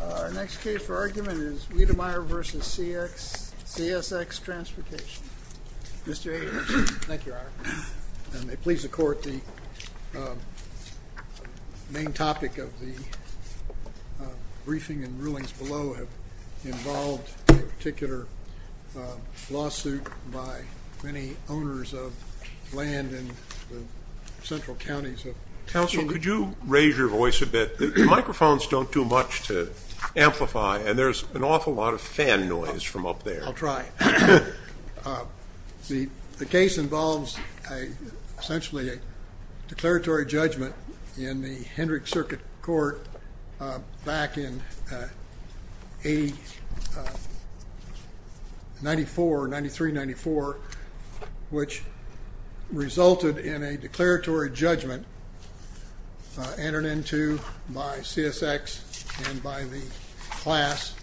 Our next case for argument is Wedemeyer v. CSX Transportation. Mr. Hager. Thank you, R. May it please the Court, the main topic of the briefing and rulings below have involved a particular lawsuit by many owners of land in the central counties of... Counsel, could you raise your voice a bit? The microphones don't do much to amplify and there's an awful lot of fan noise from up there. I'll try. The case involves essentially a declaratory judgment in the Hendrick Circuit Court back in 94, 93, 94, which resulted in a declaratory judgment entered into by CSX and by the class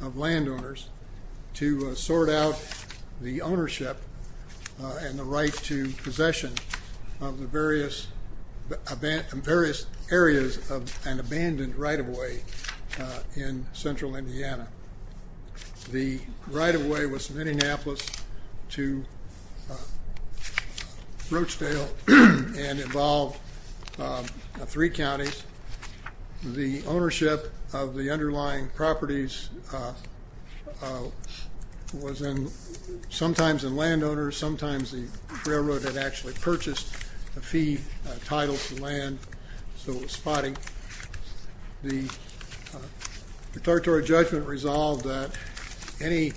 of landowners to sort out the ownership and the right to possession of the various areas of an abandoned right-of-way in central Indiana. The right-of-way was from Indianapolis to Rochedale and involved three counties. The ownership of the underlying properties was sometimes in landowners, sometimes the railroad had actually purchased a fee title to land, so it was spotty. The declaratory judgment resolved that any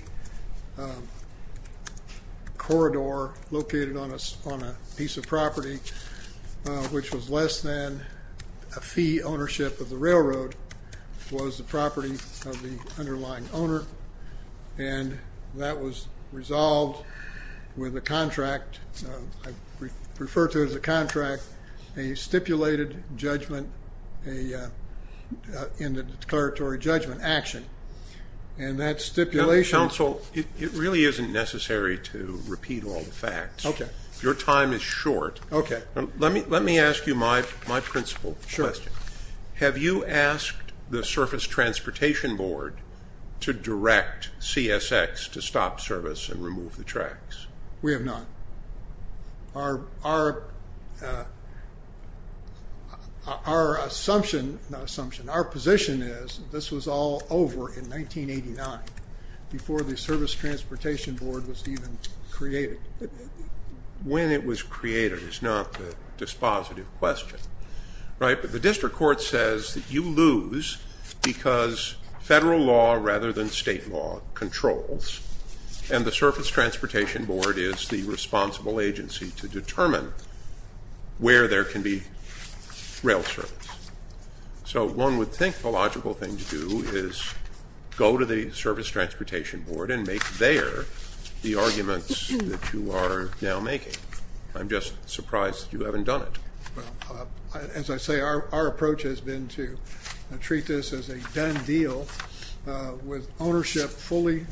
corridor located on a piece of property which was less than a fee ownership of the railroad was the property of the underlying owner. And that was resolved with a contract, I refer to it as a contract, a stipulated judgment in the declaratory judgment action. And that stipulation... Counsel, it really isn't necessary to repeat all the facts. Okay. Your time is short. Okay. Let me ask you my principle question. Sure. Have you asked the Surface Transportation Board to direct CSX to stop service and remove the tracks? We have not. Our assumption, not assumption, our position is this was all over in 1989 before the Service Transportation Board was even created. When it was created is not the dispositive question, right? But the district court says that you lose because federal law rather than state law controls, and the Surface Transportation Board is the responsible agency to determine where there can be rail service. So one would think the logical thing to do is go to the Service Transportation Board and make there the arguments that you are now making. I'm just surprised that you haven't done it. As I say, our approach has been to treat this as a done deal with ownership fully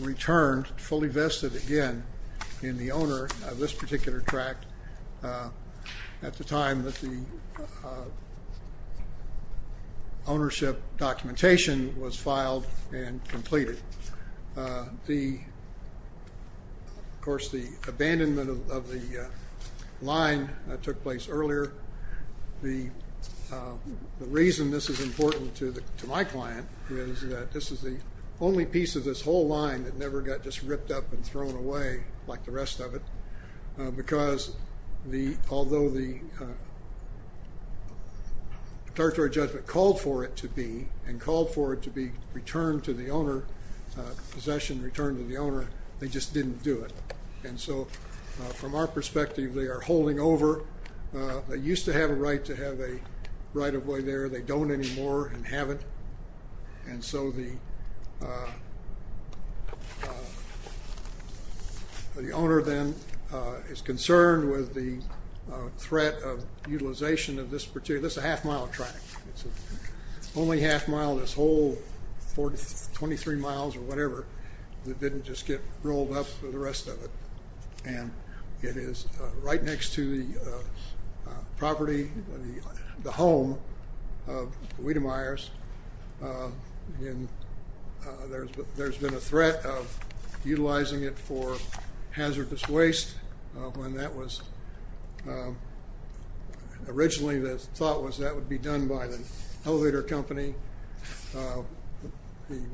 returned, fully vested again in the owner of this particular track at the time that the ownership documentation was filed and completed. Of course, the abandonment of the line took place earlier. The reason this is important to my client is that this is the only piece of this whole line that never got just ripped up and thrown away like the rest of it because although the statutory judgment called for it to be and called for it to be returned to the owner, possession returned to the owner, they just didn't do it. And so from our perspective, they are holding over. They used to have a right to have a right-of-way there. They don't anymore and haven't. And so the owner then is concerned with the threat of utilization of this particular, this is a half-mile track. It's only half-mile, this whole 23 miles or whatever that didn't just get rolled up for the rest of it. And it is right next to the property, the home of Wiedemeyer's. There's been a threat of utilizing it for hazardous waste when that was originally the thought was that would be done by the elevator company.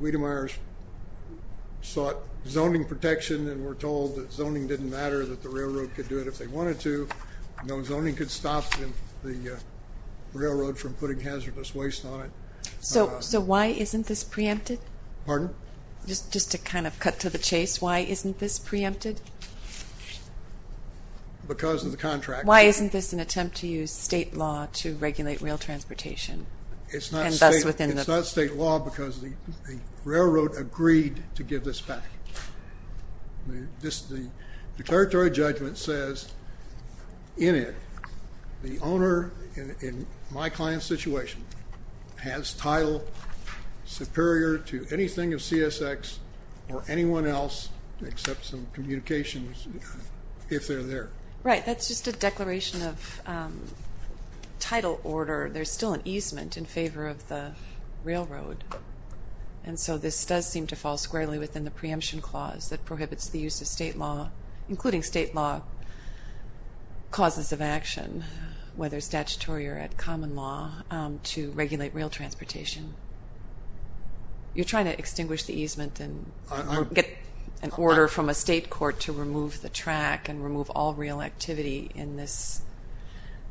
Wiedemeyer's sought zoning protection and were told that zoning didn't matter, that the railroad could do it if they wanted to. No zoning could stop the railroad from putting hazardous waste on it. So why isn't this preempted? Pardon? Just to kind of cut to the chase, why isn't this preempted? Because of the contract. Why isn't this an attempt to use state law to regulate rail transportation? It's not state law because the railroad agreed to give this back. The declaratory judgment says in it the owner in my client's situation has title superior to anything of CSX or anyone else except some communications if they're there. Right, that's just a declaration of title order. There's still an easement in favor of the railroad. And so this does seem to fall squarely within the preemption clause that prohibits the use of state law, including state law causes of action, whether statutory or at common law, to regulate rail transportation. You're trying to extinguish the easement and get an order from a state court to remove the track and remove all rail activity in this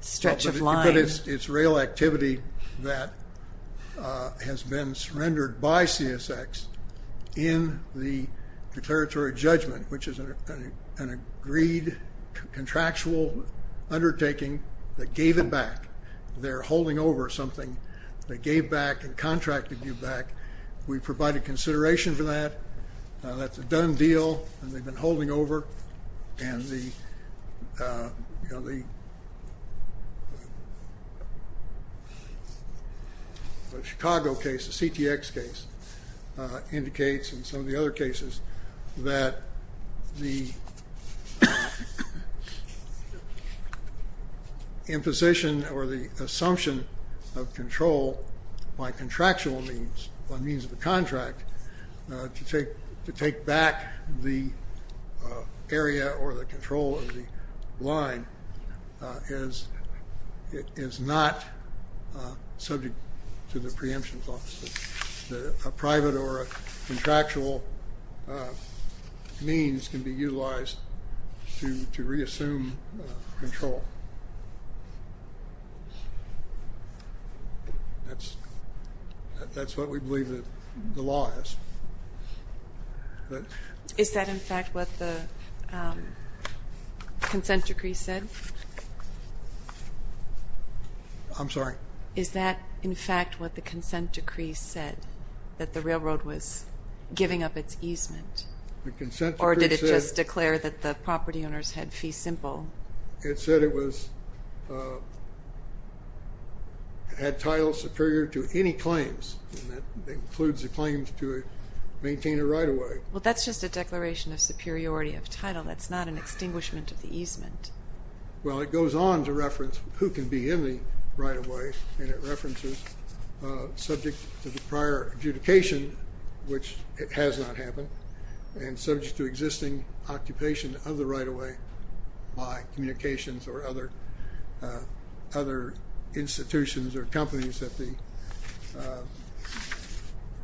stretch of line. But it's rail activity that has been surrendered by CSX in the declaratory judgment, which is an agreed contractual undertaking that gave it back. They're holding over something they gave back and contracted to give back. We provided consideration for that. That's a done deal and they've been holding over. And the Chicago case, the CTX case, indicates in some of the other cases that the imposition or the assumption of control by contractual means, by means of a contract, to take back the area or the control of the line is not subject to the preemption clause. A private or a contractual means can be utilized to reassume control. That's what we believe the law is. Is that, in fact, what the consent decree said? I'm sorry? Is that, in fact, what the consent decree said, that the railroad was giving up its easement? The consent decree said... Or did it just declare that the property owners had fee simple? It said it had title superior to any claims, and that includes the claims to maintain a right-of-way. Well, that's just a declaration of superiority of title. That's not an extinguishment of the easement. Well, it goes on to reference who can be in the right-of-way, and it references subject to the prior adjudication, which has not happened, and subject to existing occupation of the right-of-way by communications or other institutions or companies that the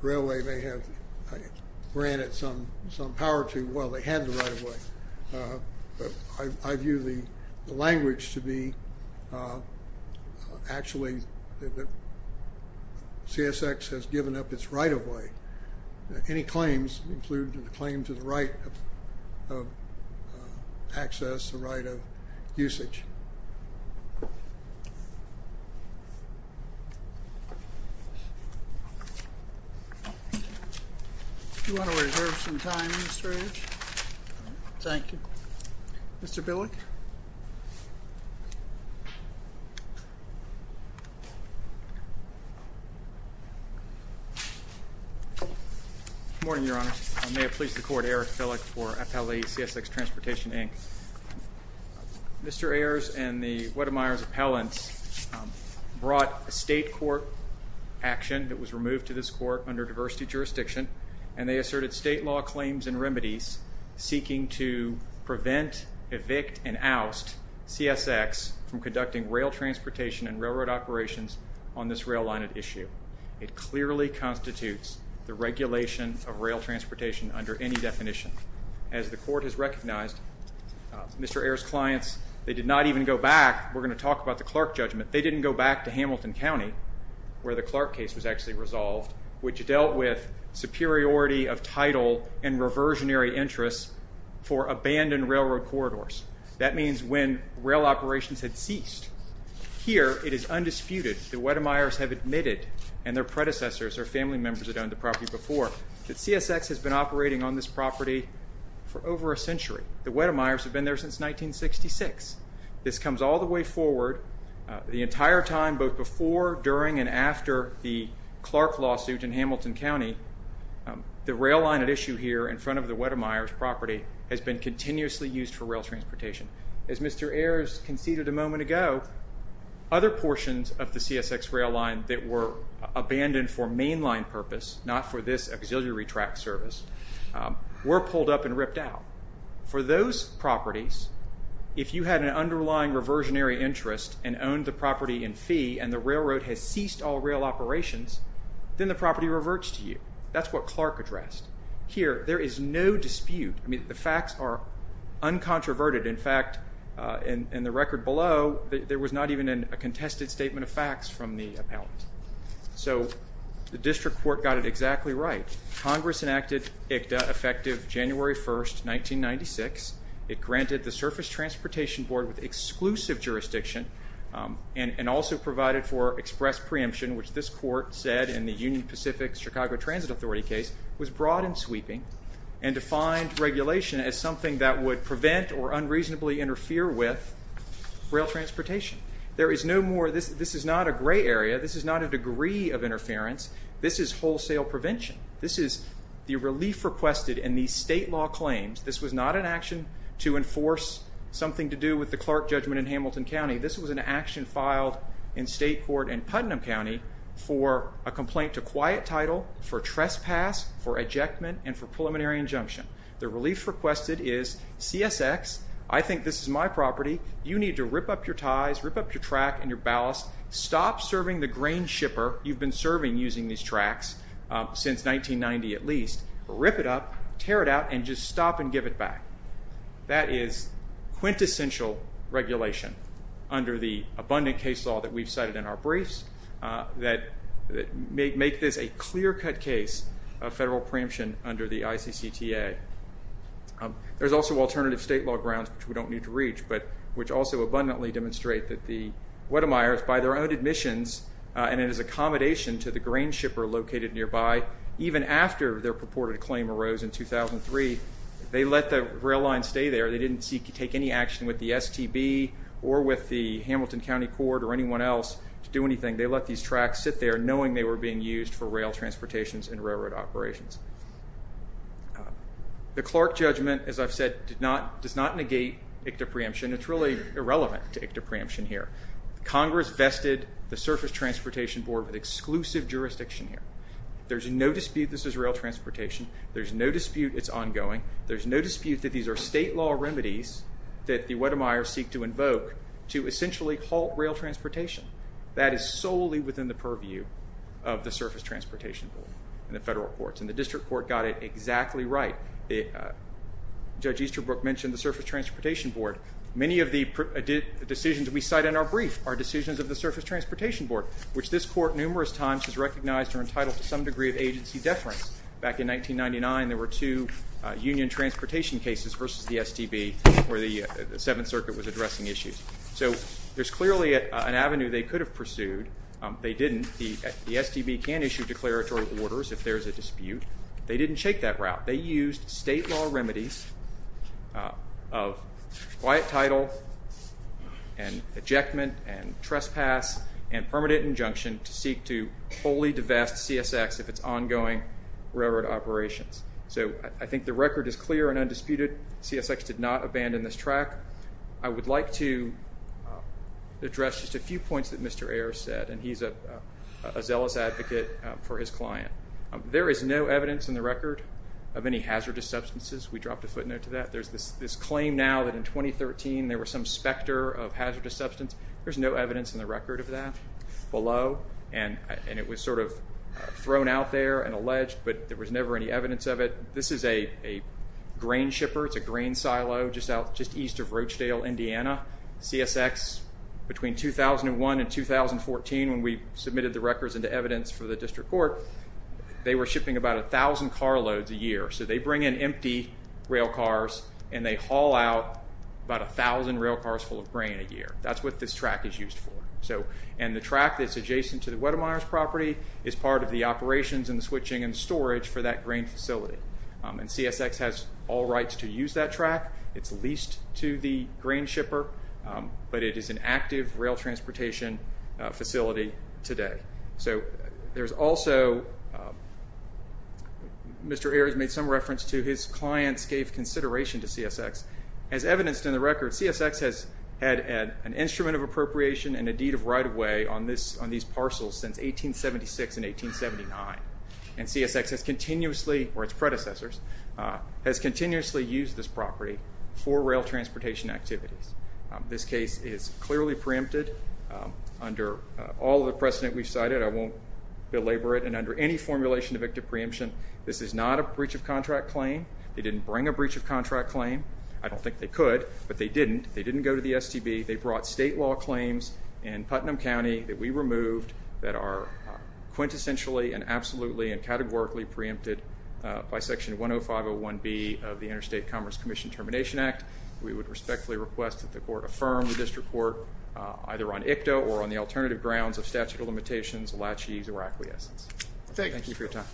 railway may have granted some power to while they had the right-of-way. I view the language to be actually that CSX has given up its right-of-way. Any claims include the claim to the right of access, the right of usage. Do you want to reserve some time, Mr. Edge? Thank you. Mr. Billick? Good morning, Your Honor. May it please the Court, Eric Billick for FLE CSX Transportation, Inc. Mr. Ayers and the Weddemeyer's appellants brought a state court action that was removed to this court under diversity jurisdiction, and they asserted state law claims and remedies seeking to prevent, evict, and oust CSX from conducting rail transportation and railroad operations on this rail line at issue. It clearly constitutes the regulation of rail transportation under any definition. As the Court has recognized, Mr. Ayers' clients, they did not even go back. We're going to talk about the Clark judgment. They didn't go back to Hamilton County where the Clark case was actually resolved, which dealt with superiority of title and reversionary interests for abandoned railroad corridors. That means when rail operations had ceased. Here it is undisputed that Weddemeyer's have admitted, and their predecessors, their family members that owned the property before, that CSX has been operating on this property for over a century. The Weddemeyer's have been there since 1966. This comes all the way forward. The entire time, both before, during, and after the Clark lawsuit in Hamilton County, the rail line at issue here in front of the Weddemeyer's property has been continuously used for rail transportation. As Mr. Ayers conceded a moment ago, other portions of the CSX rail line that were abandoned for mainline purpose, not for this auxiliary track service, were pulled up and ripped out. For those properties, if you had an underlying reversionary interest and owned the property in fee, and the railroad has ceased all rail operations, then the property reverts to you. That's what Clark addressed. Here, there is no dispute. The facts are uncontroverted. In fact, in the record below, there was not even a contested statement of facts from the appellant. So the district court got it exactly right. Congress enacted ICTA effective January 1st, 1996. It granted the Surface Transportation Board with exclusive jurisdiction and also provided for express preemption, which this court said in the Union Pacific Chicago Transit Authority case was broad and sweeping and defined regulation as something that would prevent or unreasonably interfere with rail transportation. This is not a gray area. This is not a degree of interference. This is wholesale prevention. This is the relief requested in the state law claims. This was not an action to enforce something to do with the Clark judgment in Hamilton County. This was an action filed in state court in Putnam County for a complaint to quiet title, for trespass, for ejectment, and for preliminary injunction. The relief requested is CSX, I think this is my property. You need to rip up your ties, rip up your track and your ballast. Stop serving the grain shipper you've been serving using these tracks since 1990 at least. Rip it up, tear it out, and just stop and give it back. That is quintessential regulation under the abundant case law that we've cited in our briefs that make this a clear-cut case of federal preemption under the ICCTA. There's also alternative state law grounds, which we don't need to reach, but which also abundantly demonstrate that the Wedemeyers, by their own admissions and in his accommodation to the grain shipper located nearby, even after their purported claim arose in 2003, they let the rail line stay there. They didn't take any action with the STB or with the Hamilton County Court or anyone else to do anything. They let these tracks sit there knowing they were being used for rail transportations and railroad operations. The Clark judgment, as I've said, does not negate ICCTA preemption. It's really irrelevant to ICCTA preemption here. Congress vested the Surface Transportation Board with exclusive jurisdiction here. There's no dispute this is rail transportation. There's no dispute it's ongoing. There's no dispute that these are state law remedies that the Wedemeyers seek to invoke to essentially halt rail transportation. That is solely within the purview of the Surface Transportation Board and the federal courts and the district court got it exactly right. Judge Easterbrook mentioned the Surface Transportation Board. Many of the decisions we cite in our brief are decisions of the Surface Transportation Board, which this court numerous times has recognized are entitled to some degree of agency deference. Back in 1999, there were two union transportation cases versus the STB where the Seventh Circuit was addressing issues. So there's clearly an avenue they could have pursued. They didn't. The STB can issue declaratory orders if there's a dispute. They didn't take that route. They used state law remedies of quiet title and ejectment and trespass and permanent injunction to seek to fully divest CSX if it's ongoing railroad operations. So I think the record is clear and undisputed. CSX did not abandon this track. I would like to address just a few points that Mr. Ayers said, and he's a zealous advocate for his client. There is no evidence in the record of any hazardous substances. We dropped a footnote to that. There's this claim now that in 2013 there was some specter of hazardous substance. There's no evidence in the record of that below, and it was sort of thrown out there and alleged, but there was never any evidence of it. This is a grain shipper. It's a grain silo just east of Rochedale, Indiana. CSX, between 2001 and 2014, when we submitted the records into evidence for the district court, they were shipping about 1,000 carloads a year. So they bring in empty railcars, and they haul out about 1,000 railcars full of grain a year. That's what this track is used for. And the track that's adjacent to the Weddemeyers property is part of the operations and the switching and storage for that grain facility. And CSX has all rights to use that track. It's leased to the grain shipper, but it is an active rail transportation facility today. So there's also Mr. Ayers made some reference to his clients gave consideration to CSX. As evidenced in the record, CSX has had an instrument of appropriation and a deed of right of way on these parcels since 1876 and 1879. And CSX has continuously, or its predecessors, has continuously used this property for rail transportation activities. This case is clearly preempted under all of the precedent we've cited. I won't belabor it. And under any formulation of active preemption, this is not a breach of contract claim. They didn't bring a breach of contract claim. I don't think they could, but they didn't. They didn't go to the STB. They brought state law claims in Putnam County that we removed that are quintessentially and absolutely and categorically preempted by Section 10501B of the Interstate Commerce Commission Termination Act. We would respectfully request that the court affirm the district court either on ICTA or on the alternative grounds of statute of limitations, laches, or acquiescence. Thank you for your time.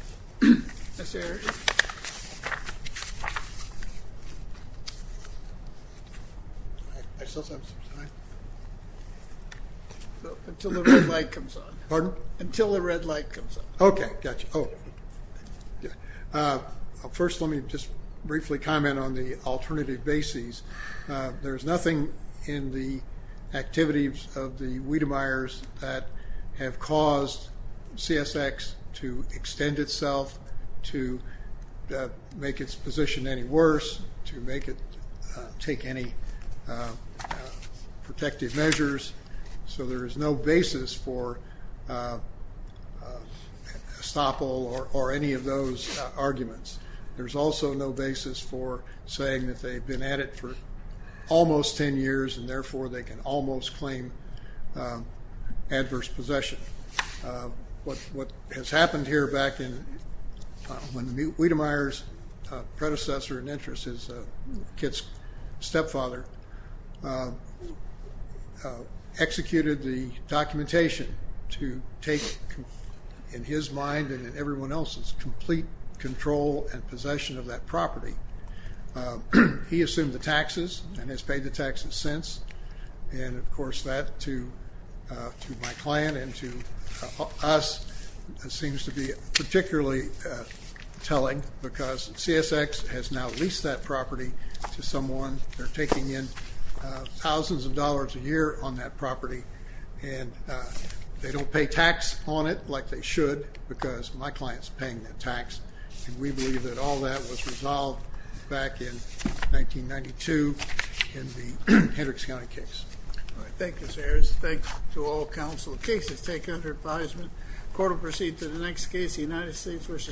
Mr. Ayers. Thank you. Until the red light comes on. Pardon? Until the red light comes on. Okay, got you. First, let me just briefly comment on the alternative bases. There's nothing in the activities of the Wiedemeyers that have caused CSX to extend itself to make its position any worse, to make it take any protective measures. So there is no basis for estoppel or any of those arguments. There's also no basis for saying that they've been at it for almost ten years and, therefore, they can almost claim adverse possession. What has happened here back when Wiedemeyer's predecessor and interest is Kit's stepfather, executed the documentation to take in his mind and in everyone else's complete control and possession of that property. He assumed the taxes and has paid the taxes since. And, of course, that to my client and to us seems to be particularly telling because CSX has now leased that property to someone. They're taking in thousands of dollars a year on that property. And they don't pay tax on it like they should because my client's paying the tax. And we believe that all that was resolved back in 1992 in the Hendricks County case. Thank you, Mr. Harris. Thanks to all counsel. The case is taken under advisement. The court will proceed to the next case, the United States v. Congress.